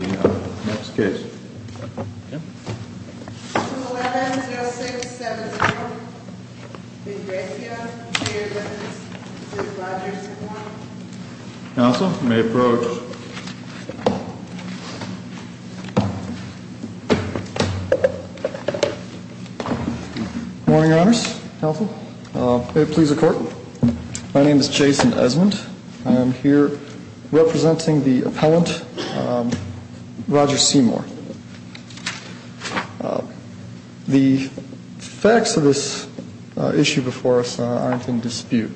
11-0670 Ingrassia Interior Elements v. Rogers & Warren Council, may I approach? Good morning, Your Honors, Council. May it please the Court, my name is Jason Esmond. I am here representing the appellant, Roger Seymour. The facts of this issue before us aren't in dispute.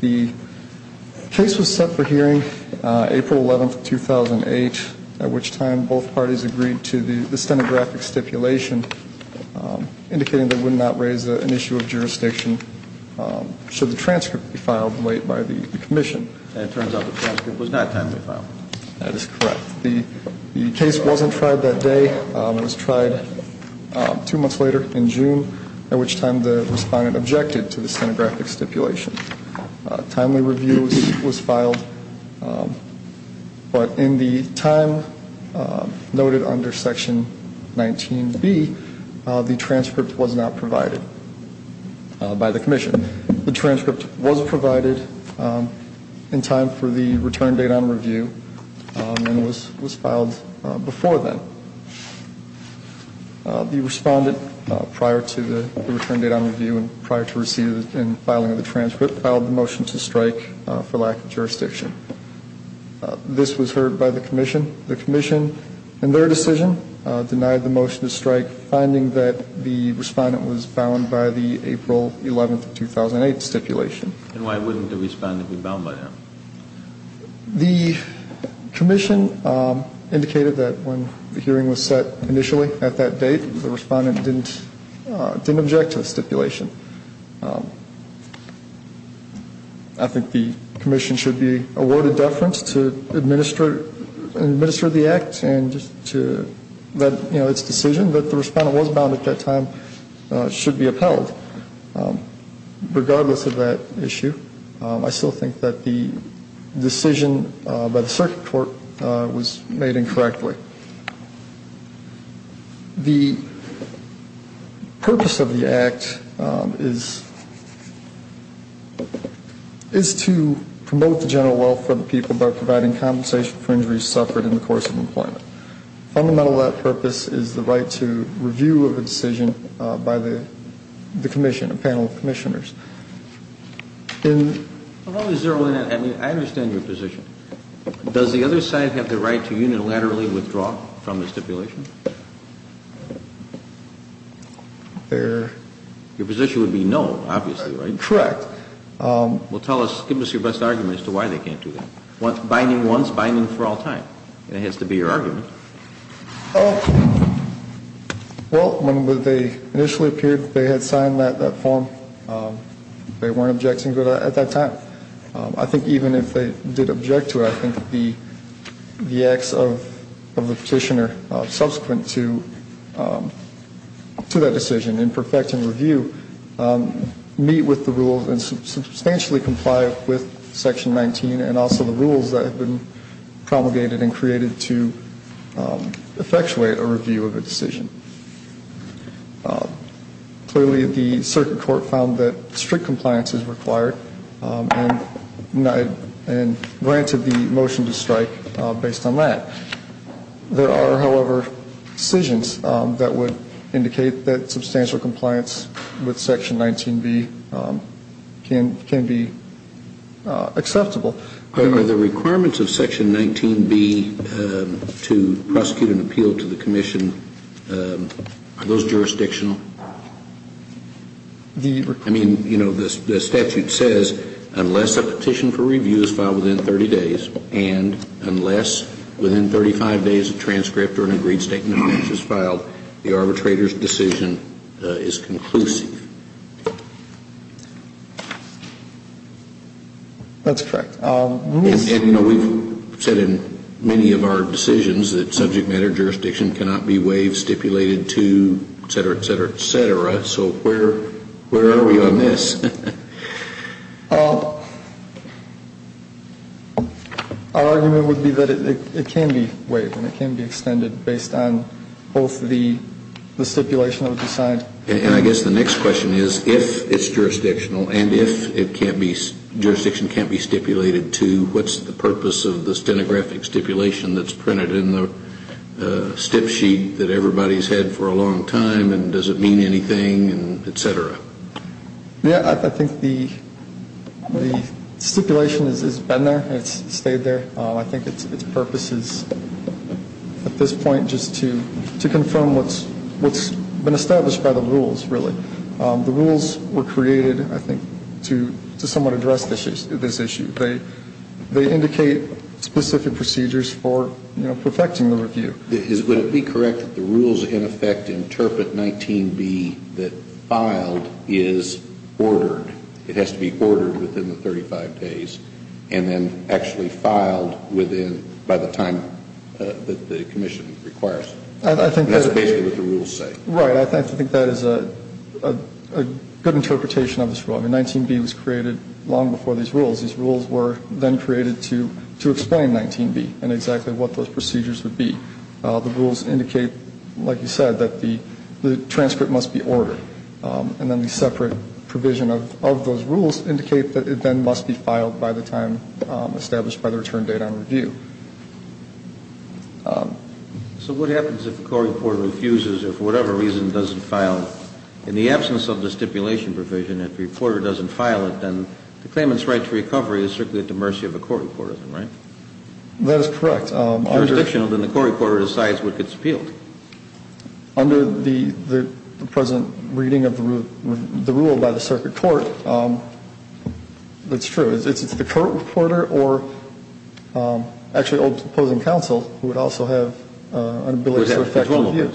The case was set for hearing April 11, 2008, at which time both parties agreed to the stenographic stipulation, indicating they would not raise an issue of jurisdiction should the transcript be filed late by the Commission. And it turns out the transcript was not timely filed. That is correct. The case wasn't tried that day. It was tried two months later in June, at which time the respondent objected to the stenographic stipulation. Timely review was filed, but in the time noted under Section 19B, the transcript was not provided by the Commission. The transcript was provided in time for the return date on review and was filed before then. The respondent, prior to the return date on review and prior to receiving and filing of the transcript, filed the motion to strike for lack of jurisdiction. This was heard by the Commission. The Commission, in their decision, denied the motion to strike, finding that the respondent was bound by the April 11, 2008 stipulation. And why wouldn't the respondent be bound by that? The Commission indicated that when the hearing was set initially at that date, the respondent didn't object to the stipulation. I think the Commission should be awarded deference to administer the Act and to let its decision that the respondent was bound at that time should be upheld. Regardless of that issue, I still think that the decision by the Circuit Court was made incorrectly. The purpose of the Act is to promote the general well-being of the people by providing compensation for injuries suffered in the course of employment. Fundamental to that purpose is the right to review of a decision by the Commission, a panel of Commissioners. I understand your position. Does the other side have the right to unilaterally withdraw from the stipulation? Your position would be no, obviously, right? Correct. Well, give us your best argument as to why they can't do that. Binding once, binding for all time. It has to be your argument. Well, when they initially appeared, they had signed that form. They weren't objecting at that time. I think even if they did object to it, I think the acts of the petitioner subsequent to that decision, in perfecting review, meet with the rules and substantially comply with Section 19 and also the rules that have been promulgated and created to effectuate a review of a decision. Clearly, the Circuit Court found that strict compliance is required and granted the motion to strike based on that. There are, however, decisions that would indicate that substantial compliance with Section 19B can be acceptable. Are the requirements of Section 19B to prosecute an appeal to the Commission, are those jurisdictional? I mean, you know, the statute says unless a petition for review is filed within 30 days and unless within 35 days a transcript or an agreed statement of interest is filed, the arbitrator's decision is conclusive. That's correct. And, you know, we've said in many of our decisions that subject matter jurisdiction cannot be waived, stipulated to, et cetera, et cetera. So where are we on this? Our argument would be that it can be waived and it can be extended based on both the stipulation of the sign. And I guess the next question is if it's jurisdictional and if it can't be, jurisdiction can't be stipulated to, what's the purpose of the stenographic stipulation that's printed in the stip sheet that everybody's had for a long time and does it mean anything, et cetera? Yeah, I think the stipulation has been there and it's stayed there. I think its purpose is at this point just to confirm what's been established by the rules, really. The rules were created, I think, to somewhat address this issue. They indicate specific procedures for, you know, perfecting the review. Would it be correct that the rules, in effect, interpret 19B that filed is ordered? It has to be ordered within the 35 days and then actually filed within, by the time that the commission requires it. That's basically what the rules say. Right. I think that is a good interpretation of this rule. The rules indicate, like you said, that the transcript must be ordered. And then the separate provision of those rules indicate that it then must be filed by the time established by the return date on review. So what happens if a court reporter refuses or, for whatever reason, doesn't file it? In the absence of the stipulation provision, if the reporter doesn't file it, then the claimant's right to request a return date on review is not required. But if the court reporter doesn't file it, then the claimant's right to request a return date on review. So the only way to get a recovery is strictly at the mercy of the court reporter, right? That is correct. If it's jurisdictional, then the court reporter decides what gets appealed. Under the present reading of the rule by the circuit court, that's true. It's the court reporter or actually the opposing counsel who would also have an ability to effect a review.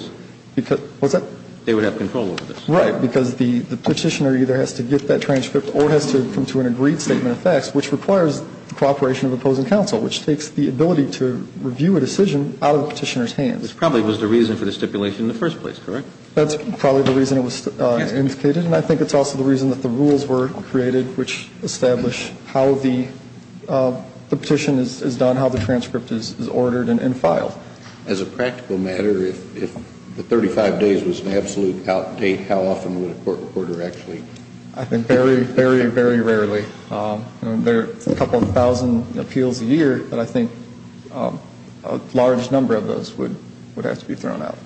They would have control over this. What's that? They would have control over this. Right. Because the Petitioner either has to get that transcript or has to come to an agreed statement of facts, which requires cooperation of opposing counsel, which takes the ability to review a decision out of the Petitioner's hands. Which probably was the reason for the stipulation in the first place, correct? That's probably the reason it was indicated. And I think it's also the reason that the rules were created, which establish how the petition is done, how the transcript is ordered and filed. As a practical matter, if the 35 days was an absolute out date, how often would a court reporter actually? I think very, very, very rarely. There are a couple thousand appeals a year, but I think a large number of those would have to be thrown out.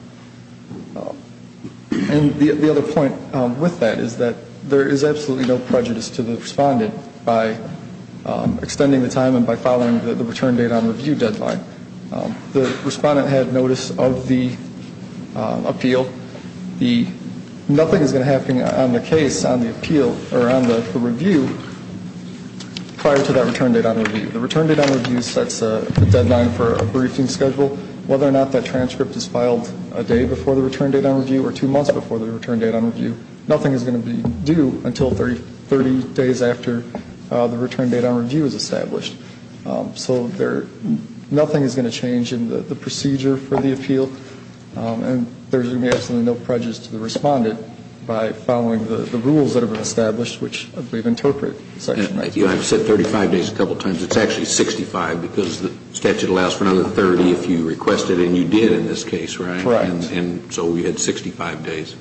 And the other point with that is that there is absolutely no prejudice to the respondent by extending the time and by following the return date on review deadline. The respondent had notice of the appeal. Nothing is going to happen on the case on the appeal or on the review prior to that return date on review. The return date on review sets a deadline for a briefing schedule. Whether or not that transcript is filed a day before the return date on review or two months before the return date on review, nothing is going to be due until 30 days after the return date on review is established. So nothing is going to change in the procedure for the appeal. And there's going to be absolutely no prejudice to the respondent by following the rules that have been established, which we've interpreted. I've said 35 days a couple times. It's actually 65 because the statute allows for another 30 if you request it, and you did in this case, right? Correct. And so you had 65 days.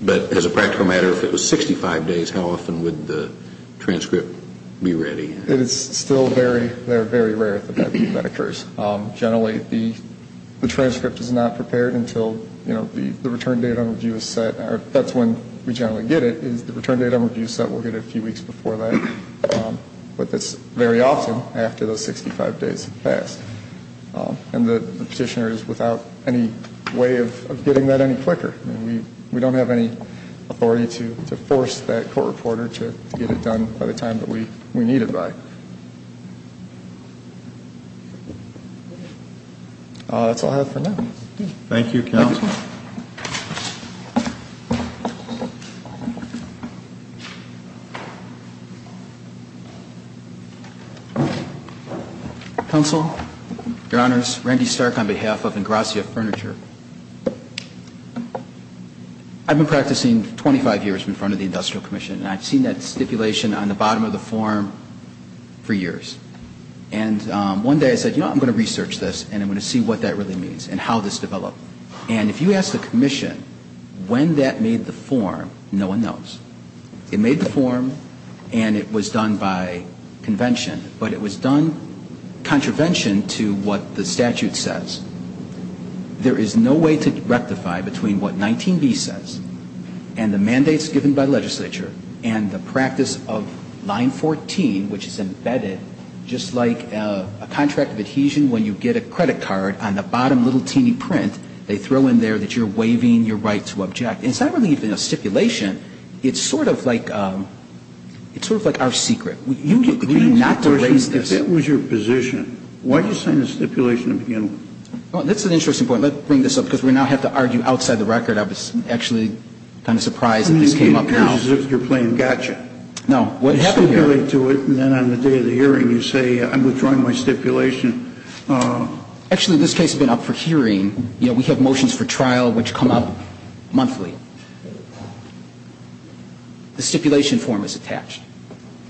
But as a practical matter, if it was 65 days, how often would the transcript be ready? It is still very, very rare that that occurs. Generally, the transcript is not prepared until, you know, the return date on review is set. That's when we generally get it, is the return date on review is set. We'll get it a few weeks before that. But that's very often after those 65 days have passed. And the petitioner is without any way of getting that any quicker. We don't have any authority to force that court reporter to get it done by the time that we need it by. That's all I have for now. Thank you, Counsel. Counsel, Your Honors, Randy Stark on behalf of Ingrassia Furniture. I've been practicing 25 years in front of the Industrial Commission, and I've seen that stipulation on the bottom of the form for years. And one day I said, you know, I'm going to research this, and I'm going to see what that really means and how this developed. And if you ask the commission when that made the form, no one knows. It made the form, and it was done by convention. But it was done contravention to what the statute says. There is no way to rectify between what 19B says and the mandates given by the legislature and the practice of line 14, which is embedded just like a contract of adhesion when you get a credit card on the bottom little teeny print, they throw in there that you're waiving your right to object. It's not really even a stipulation. It's sort of like our secret. You agree not to raise this. If that was your position, why did you sign the stipulation in the beginning? Well, that's an interesting point. Let's bring this up because we now have to argue outside the record. I was actually kind of surprised that this came up. I mean, you're playing gotcha. You stipulate to it, and then on the day of the hearing you say I'm withdrawing my stipulation. Actually, this case has been up for hearing. We have motions for trial which come up monthly. The stipulation form is attached.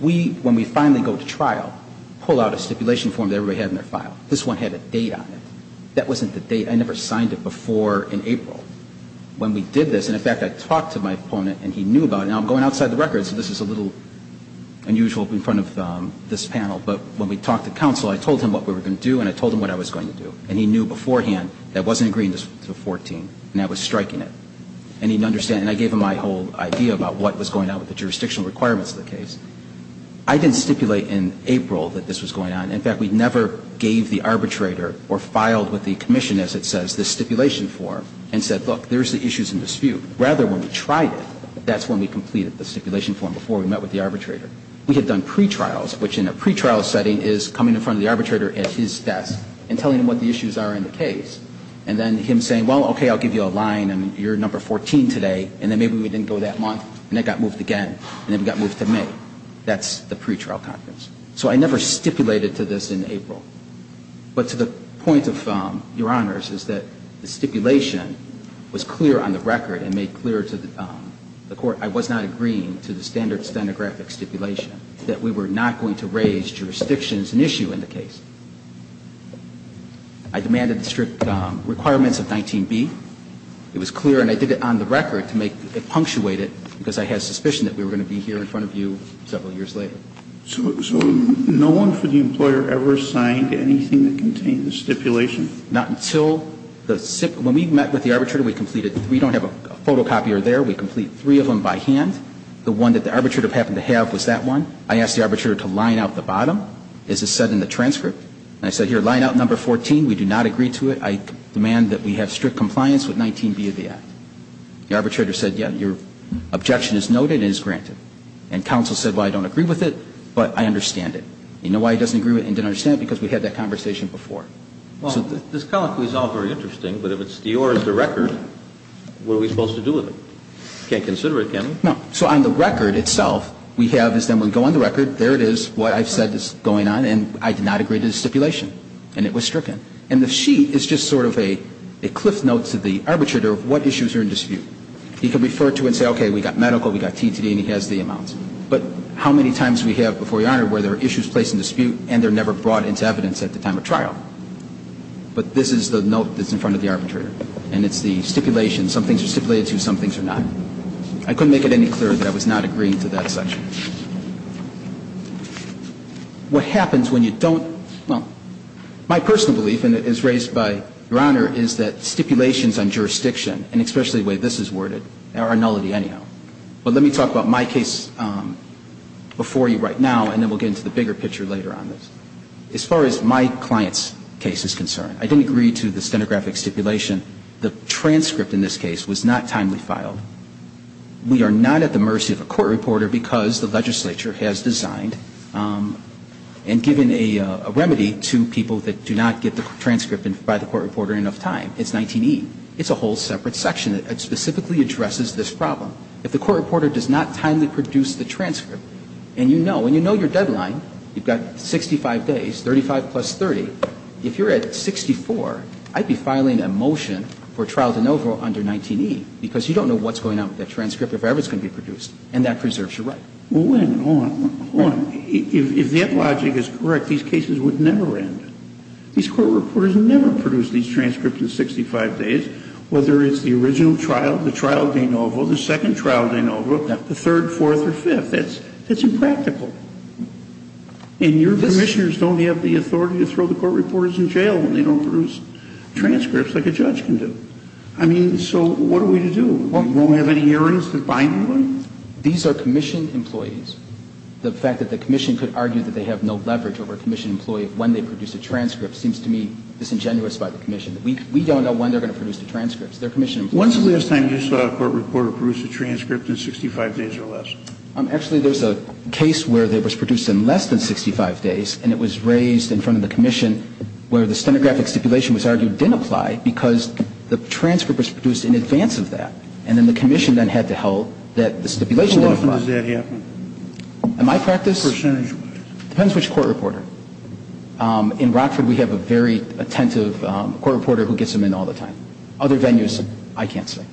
We, when we finally go to trial, pull out a stipulation form that everybody had in their file. This one had a date on it. That wasn't the date. I never signed it before in April. When we did this, and in fact I talked to my opponent and he knew about it. Now, I'm going outside the record, so this is a little unusual in front of this panel. But when we talked to counsel, I told him what we were going to do and I told him what I was going to do. And he knew beforehand that I wasn't agreeing to 14 and I was striking it. And he didn't understand. And I gave him my whole idea about what was going on with the jurisdictional requirements of the case. I didn't stipulate in April that this was going on. In fact, we never gave the arbitrator or filed with the commission, as it says, this stipulation form and said, look, there's the issues in dispute. Rather, when we tried it, that's when we completed the stipulation form, before we met with the arbitrator. We had done pretrials, which in a pretrial setting is coming in front of the arbitrator at his desk and telling him what the issues are in the case. And then him saying, well, okay, I'll give you a line and you're number 14 today. And then maybe we didn't go that month and it got moved again and it got moved to me. That's the pretrial conference. So I never stipulated to this in April. But to the point of, Your Honors, is that the stipulation was clear on the record and made clear to the Court I was not agreeing to the standard stenographic stipulation, that we were not going to raise jurisdictions and issue in the case. I demanded the strict requirements of 19B. It was clear and I did it on the record to make it punctuated because I had suspicion that we were going to be here in front of you several years later. So no one for the employer ever signed anything that contained the stipulation? Not until the stipulation. When we met with the arbitrator, we completed three. We don't have a photocopier there. We complete three of them by hand. The one that the arbitrator happened to have was that one. I asked the arbitrator to line out the bottom, as is said in the transcript. And I said, here, line out number 14. We do not agree to it. I demand that we have strict compliance with 19B of the act. The arbitrator said, yes, your objection is noted and is granted. And counsel said, well, I don't agree with it, but I understand it. You know why he doesn't agree with it and didn't understand it? Because we had that conversation before. So the ---- Well, this colloquy is all very interesting, but if it's yours, the record, what are we supposed to do with it? You can't consider it, can you? No. So on the record itself, we have this. Then we go on the record. There it is, what I've said is going on, and I did not agree to the stipulation and it was stricken. And the sheet is just sort of a cliff note to the arbitrator of what issues are in dispute. He could refer to it and say, okay, we've got medical, we've got TTD, and he has the amounts. But how many times do we have before your Honor where there are issues placed in dispute and they're never brought into evidence at the time of trial? But this is the note that's in front of the arbitrator, and it's the stipulation. Some things are stipulated to, some things are not. I couldn't make it any clearer that I was not agreeing to that section. What happens when you don't ---- well, my personal belief, and it is raised by your Honor, is that stipulations on jurisdiction, and especially the way this is worded, are a nullity anyhow. But let me talk about my case before you right now, and then we'll get into the bigger picture later on this. As far as my client's case is concerned, I didn't agree to the stenographic stipulation. The transcript in this case was not timely filed. We are not at the mercy of a court reporter because the legislature has designed and given a remedy to people that do not get the transcript by the court reporter during enough time. It's 19E. It's a whole separate section that specifically addresses this problem. If the court reporter does not timely produce the transcript, and you know, when you know your deadline, you've got 65 days, 35 plus 30, if you're at 64, I'd be filing a motion for trial de novo under 19E, because you don't know what's going on with that transcript, if ever it's going to be produced, and that preserves your right. Well, wait a minute. Hold on. Hold on. If that logic is correct, these cases would never end. These court reporters never produce these transcripts in 65 days, whether it's the original trial, the trial de novo, the second trial de novo, the third, fourth, or fifth. That's impractical. And your Commissioners don't have the authority to throw the court reporters in jail when they don't produce transcripts like a judge can do. I mean, so what are we to do? We won't have any hearings that bind them? These are Commission employees. The fact that the Commission could argue that they have no leverage over a Commission employee when they produce a transcript seems to me disingenuous by the Commission. We don't know when they're going to produce the transcripts. They're Commission employees. When's the last time you saw a court reporter produce a transcript in 65 days or less? Actually, there's a case where it was produced in less than 65 days, and it was raised in front of the Commission where the stenographic stipulation was argued didn't apply because the transcript was produced in advance of that. And then the Commission then had to hold that the stipulation didn't apply. How often does that happen? In my practice? Percentagewise. Depends which court reporter. In Rockford, we have a very attentive court reporter who gets them in all the time. Other venues, I can't say.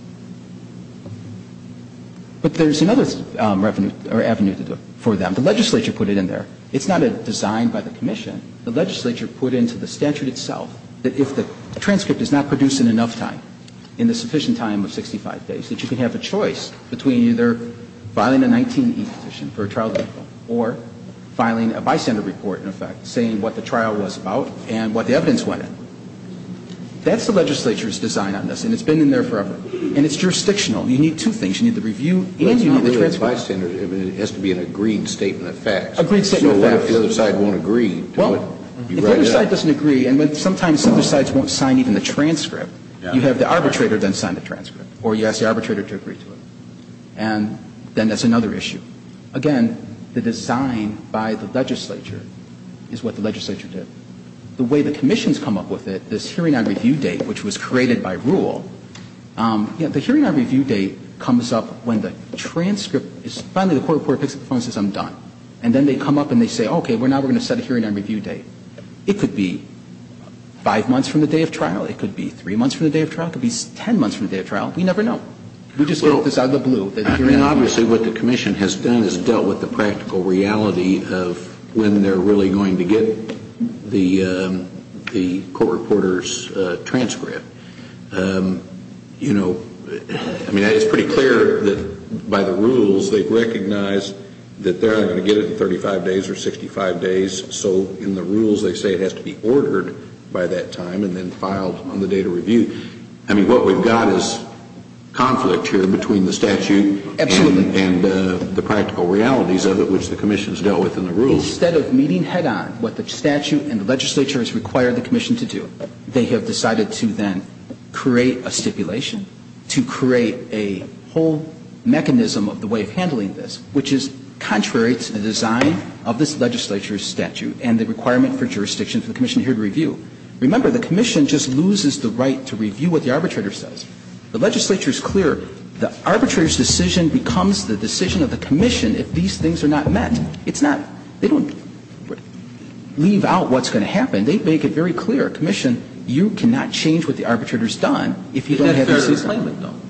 But there's another avenue for them. The legislature put it in there. It's not a design by the Commission. The legislature put into the statute itself that if the transcript is not produced in enough time, in the sufficient time of 65 days, that you can have a choice between either filing a 19E petition for a trial default or filing a bystander report, in effect, saying what the trial was about and what the evidence went in. That's the legislature's design on this, and it's been in there forever. And it's jurisdictional. You need two things. You need the review and you need the transcript. But it's not really a bystander. It has to be an agreed statement of facts. Agreed statement of facts. So what if the other side won't agree to it? Well, if the other side doesn't agree, and sometimes some other sides won't sign even the transcript, you have the arbitrator then sign the transcript. Or you ask the arbitrator to agree to it. And then that's another issue. Again, the design by the legislature is what the legislature did. The way the commissions come up with it, this hearing on review date, which was created by rule, you know, the hearing on review date comes up when the transcript is finally the court report picks up the phone and says I'm done. And then they come up and they say, okay, now we're going to set a hearing on review date. It could be 5 months from the day of trial. It could be 3 months from the day of trial. It could be 10 months from the day of trial. We never know. We just get this out of the blue. Obviously what the commission has done is dealt with the practical reality of when they're really going to get the court reporter's transcript. You know, I mean, it's pretty clear that by the rules they've recognized that they're not going to get it in 35 days or 65 days. So in the rules they say it has to be ordered by that time and then filed on the day to review. I mean, what we've got is conflict here between the statute and the practical realities of it, which the commission has dealt with in the rules. Instead of meeting head-on what the statute and the legislature has required the commission to do, they have decided to then create a stipulation to create a whole mechanism of the way of handling this, which is contrary to the design of this legislature's statute and the requirement for jurisdiction for the commission here to review. Remember, the commission just loses the right to review what the arbitrator says. The legislature is clear. The arbitrator's decision becomes the decision of the commission if these things are not met. It's not – they don't leave out what's going to happen. They make it very clear. Commission, you cannot change what the arbitrator's done if you don't have this explainment done.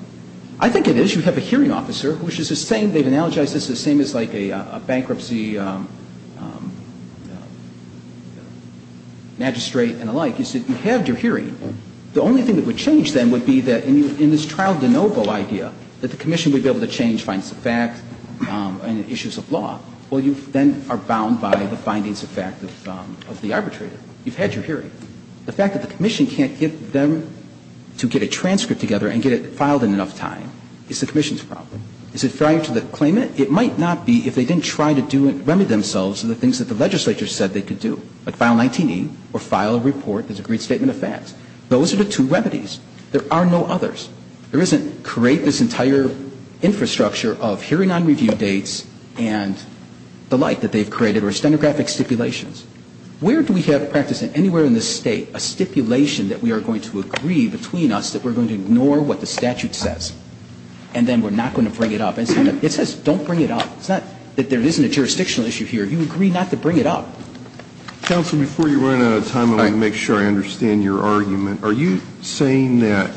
I think it is. You have a hearing officer, which is the same – they've analogized this as the same thing as the hearing officer, but they have different recommendations. Now, you say, look, the judges, the public defender, the bankruptcy magistrate and the like, you said you have your hearing. The only thing that would change then would be that in this trial de novo idea that the commission would be able to change finds of fact and issues of law, well, you then are bound by the findings of fact of the arbitrator. You've had your hearing. The fact that the commission can't get them to get a transcript together and get it filed in enough time is the commission's problem. Is it prior to the claimant? It might not be if they didn't try to do it, remedy themselves to the things that the legislature said they could do, like file 19E or file a report that's a great statement of facts. Those are the two remedies. There are no others. There isn't create this entire infrastructure of hearing on review dates and the like that they've created or stenographic stipulations. Where do we have practice in anywhere in this State a stipulation that we are going to agree between us that we're going to ignore what the statute says and then we're not going to bring it up? It says don't bring it up. It's not that there isn't a jurisdictional issue here. You agree not to bring it up. Sotomayor, before you run out of time, I want to make sure I understand your argument. Are you saying that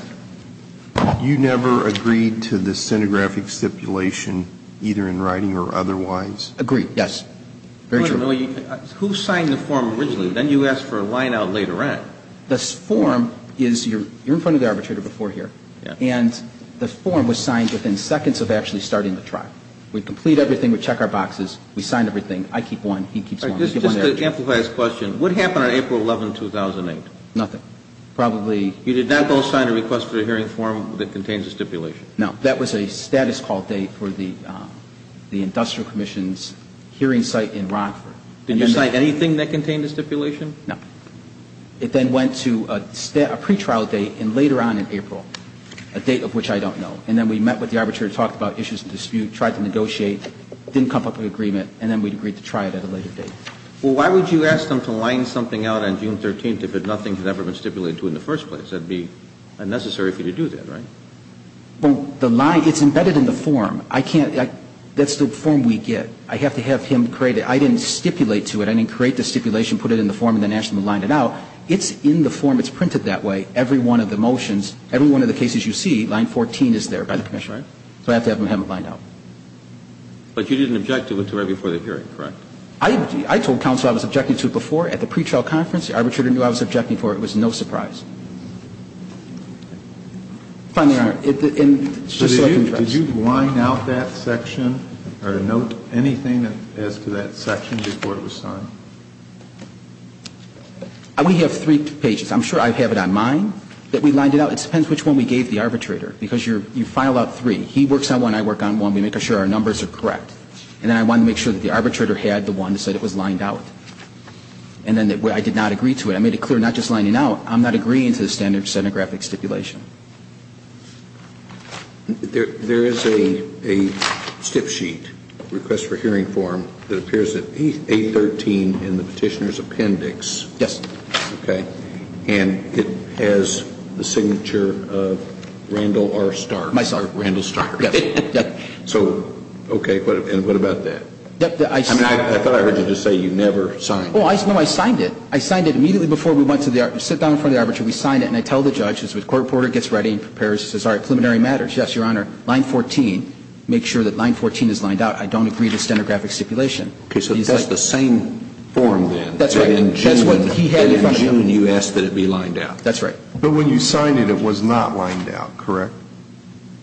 you never agreed to the stenographic stipulation either in writing or otherwise? Agreed, yes. Very true. Wait a minute. Who signed the form originally? Then you asked for a line-out later on. This form is you're in front of the arbitrator before here. And the form was signed within seconds of actually starting the trial. We complete everything. We check our boxes. We sign everything. I keep one. He keeps one. Just to amplify his question, what happened on April 11, 2008? Nothing. Probably. You did not go sign a request for a hearing form that contains a stipulation? No. That was a status call date for the industrial commission's hearing site in Rockford. Did you sign anything that contained a stipulation? No. It then went to a pretrial date and later on in April, a date of which I don't know. And then we met with the arbitrator, talked about issues of dispute, tried to negotiate, didn't come up with an agreement, and then we agreed to try it at a later date. Well, why would you ask them to line something out on June 13th if nothing had ever been stipulated to in the first place? That would be unnecessary for you to do that, right? Well, the line, it's embedded in the form. I can't, that's the form we get. I have to have him create it. I didn't stipulate to it. I didn't create the stipulation, put it in the form, and then ask them to line it out. It's in the form. It's printed that way. Every one of the motions, every one of the cases you see, line 14 is there by the commissioner. So I have to have him line it out. But you didn't object to it until right before the hearing, correct? I told counsel I was objecting to it before at the pretrial conference. The arbitrator knew I was objecting to it. It was no surprise. Finally, Your Honor. Did you line out that section or note anything as to that section before it was signed? We have three pages. I'm sure I have it on mine that we lined it out. It depends which one we gave the arbitrator. Because you file out three. He works on one, I work on one. We make sure our numbers are correct. And then I wanted to make sure that the arbitrator had the one that said it was lined out. And then I did not agree to it. I made it clear not just lining out. I'm not agreeing to it. I'm not agreeing to the standard of stenographic stipulation. There is a stip sheet, request for hearing form, that appears at A13 in the Petitioner's appendix. Yes. Okay. And it has the signature of Randall R. Stark. My sorry. Randall Stark. Yes. So okay. And what about that? I thought I heard you just say you never signed it. Oh, no, I signed it. I signed it immediately before we went to the arbitrator. So we signed it. And I tell the judge, the court reporter gets ready and says preliminary matters. Yes, Your Honor. Line 14. Make sure that line 14 is lined out. I don't agree to stenographic stipulation. Okay. So that's the same form then. That's right. In June you asked that it be lined out. That's right. But when you signed it, it was not lined out, correct?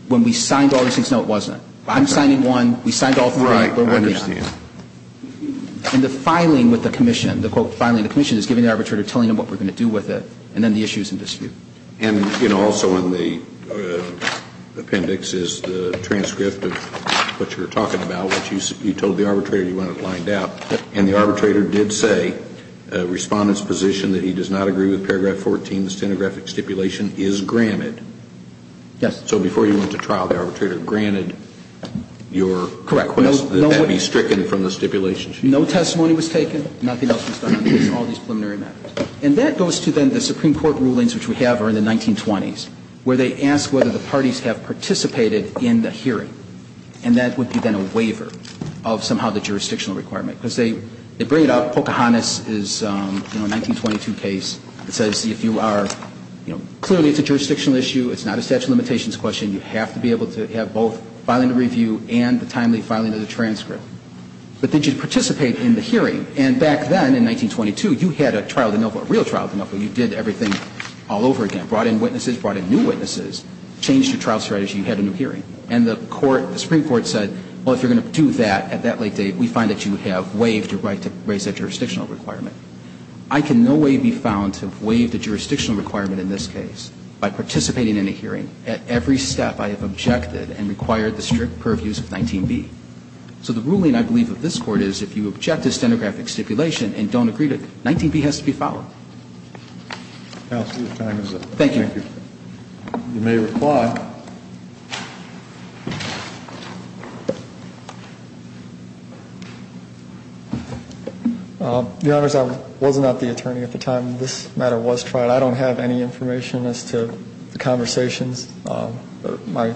When we signed all these things, no, it wasn't. I'm signing one. We signed all three. Right. I understand. And the filing with the commission, the quote filing the commission is giving the arbitrator telling them what we're going to do with it, and then the issue is in dispute. And, you know, also in the appendix is the transcript of what you were talking about, which you told the arbitrator you want it lined out. And the arbitrator did say, Respondent's position that he does not agree with paragraph 14, the stenographic stipulation, is granted. Yes. So before you went to trial, the arbitrator granted your request that that be stricken from the stipulation sheet. No testimony was taken. Nothing else was done on all these preliminary matters. And that goes to then the Supreme Court rulings, which we have are in the 1920s, where they ask whether the parties have participated in the hearing. And that would be then a waiver of somehow the jurisdictional requirement. Because they bring it up, Pocahontas is, you know, a 1922 case. It says if you are, you know, clearly it's a jurisdictional issue. It's not a statute of limitations question. You have to be able to have both filing to review and the timely filing of the transcript. But did you participate in the hearing? And back then in 1922, you had a trial de novo, a real trial de novo. You did everything all over again. Brought in witnesses. Brought in new witnesses. Changed your trial strategy. You had a new hearing. And the Supreme Court said, well, if you're going to do that at that late date, we find that you have waived your right to raise that jurisdictional requirement. I can no way be found to have waived a jurisdictional requirement in this case by participating in a hearing at every step I have objected and required the strict purviews of 19b. So the ruling I believe of this Court is if you object to stenographic stipulation and don't agree to it, 19b has to be followed. Thank you. You may reply. Your Honors, I was not the attorney at the time this matter was tried. I don't have any information as to the conversations my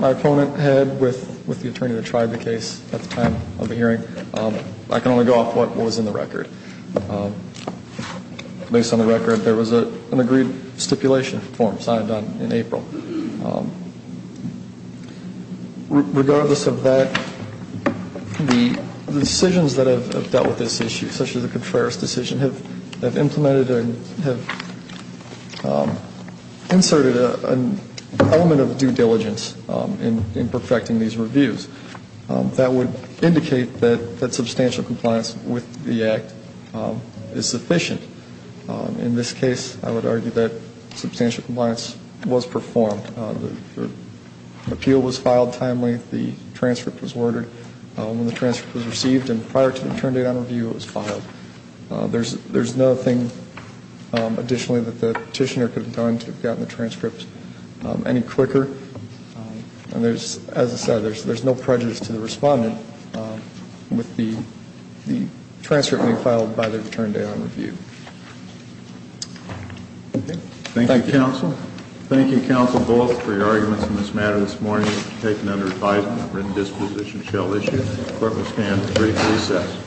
opponent had with the attorney that tried the case at the time of the hearing. I can only go off what was in the record. Based on the record, there was an agreed stipulation form signed in April. Regardless of that, the decisions that have dealt with this issue, such as the Contreras decision, have implemented and have inserted an element of due diligence in perfecting these reviews. That would indicate that substantial compliance with the Act is sufficient. In this case, I would argue that substantial compliance was performed. The appeal was filed timely. The transcript was worded. When the transcript was received and prior to the return date on review, it was filed. There's nothing additionally that the petitioner could have done to have gotten the transcript any quicker. As I said, there's no prejudice to the respondent with the transcript being filed by the return date on review. Thank you, Counsel. Thank you, Counsel Bullock, for your arguments in this matter this morning. It was taken under advisement. Written disposition shall issue. The Court will stand at brief recess.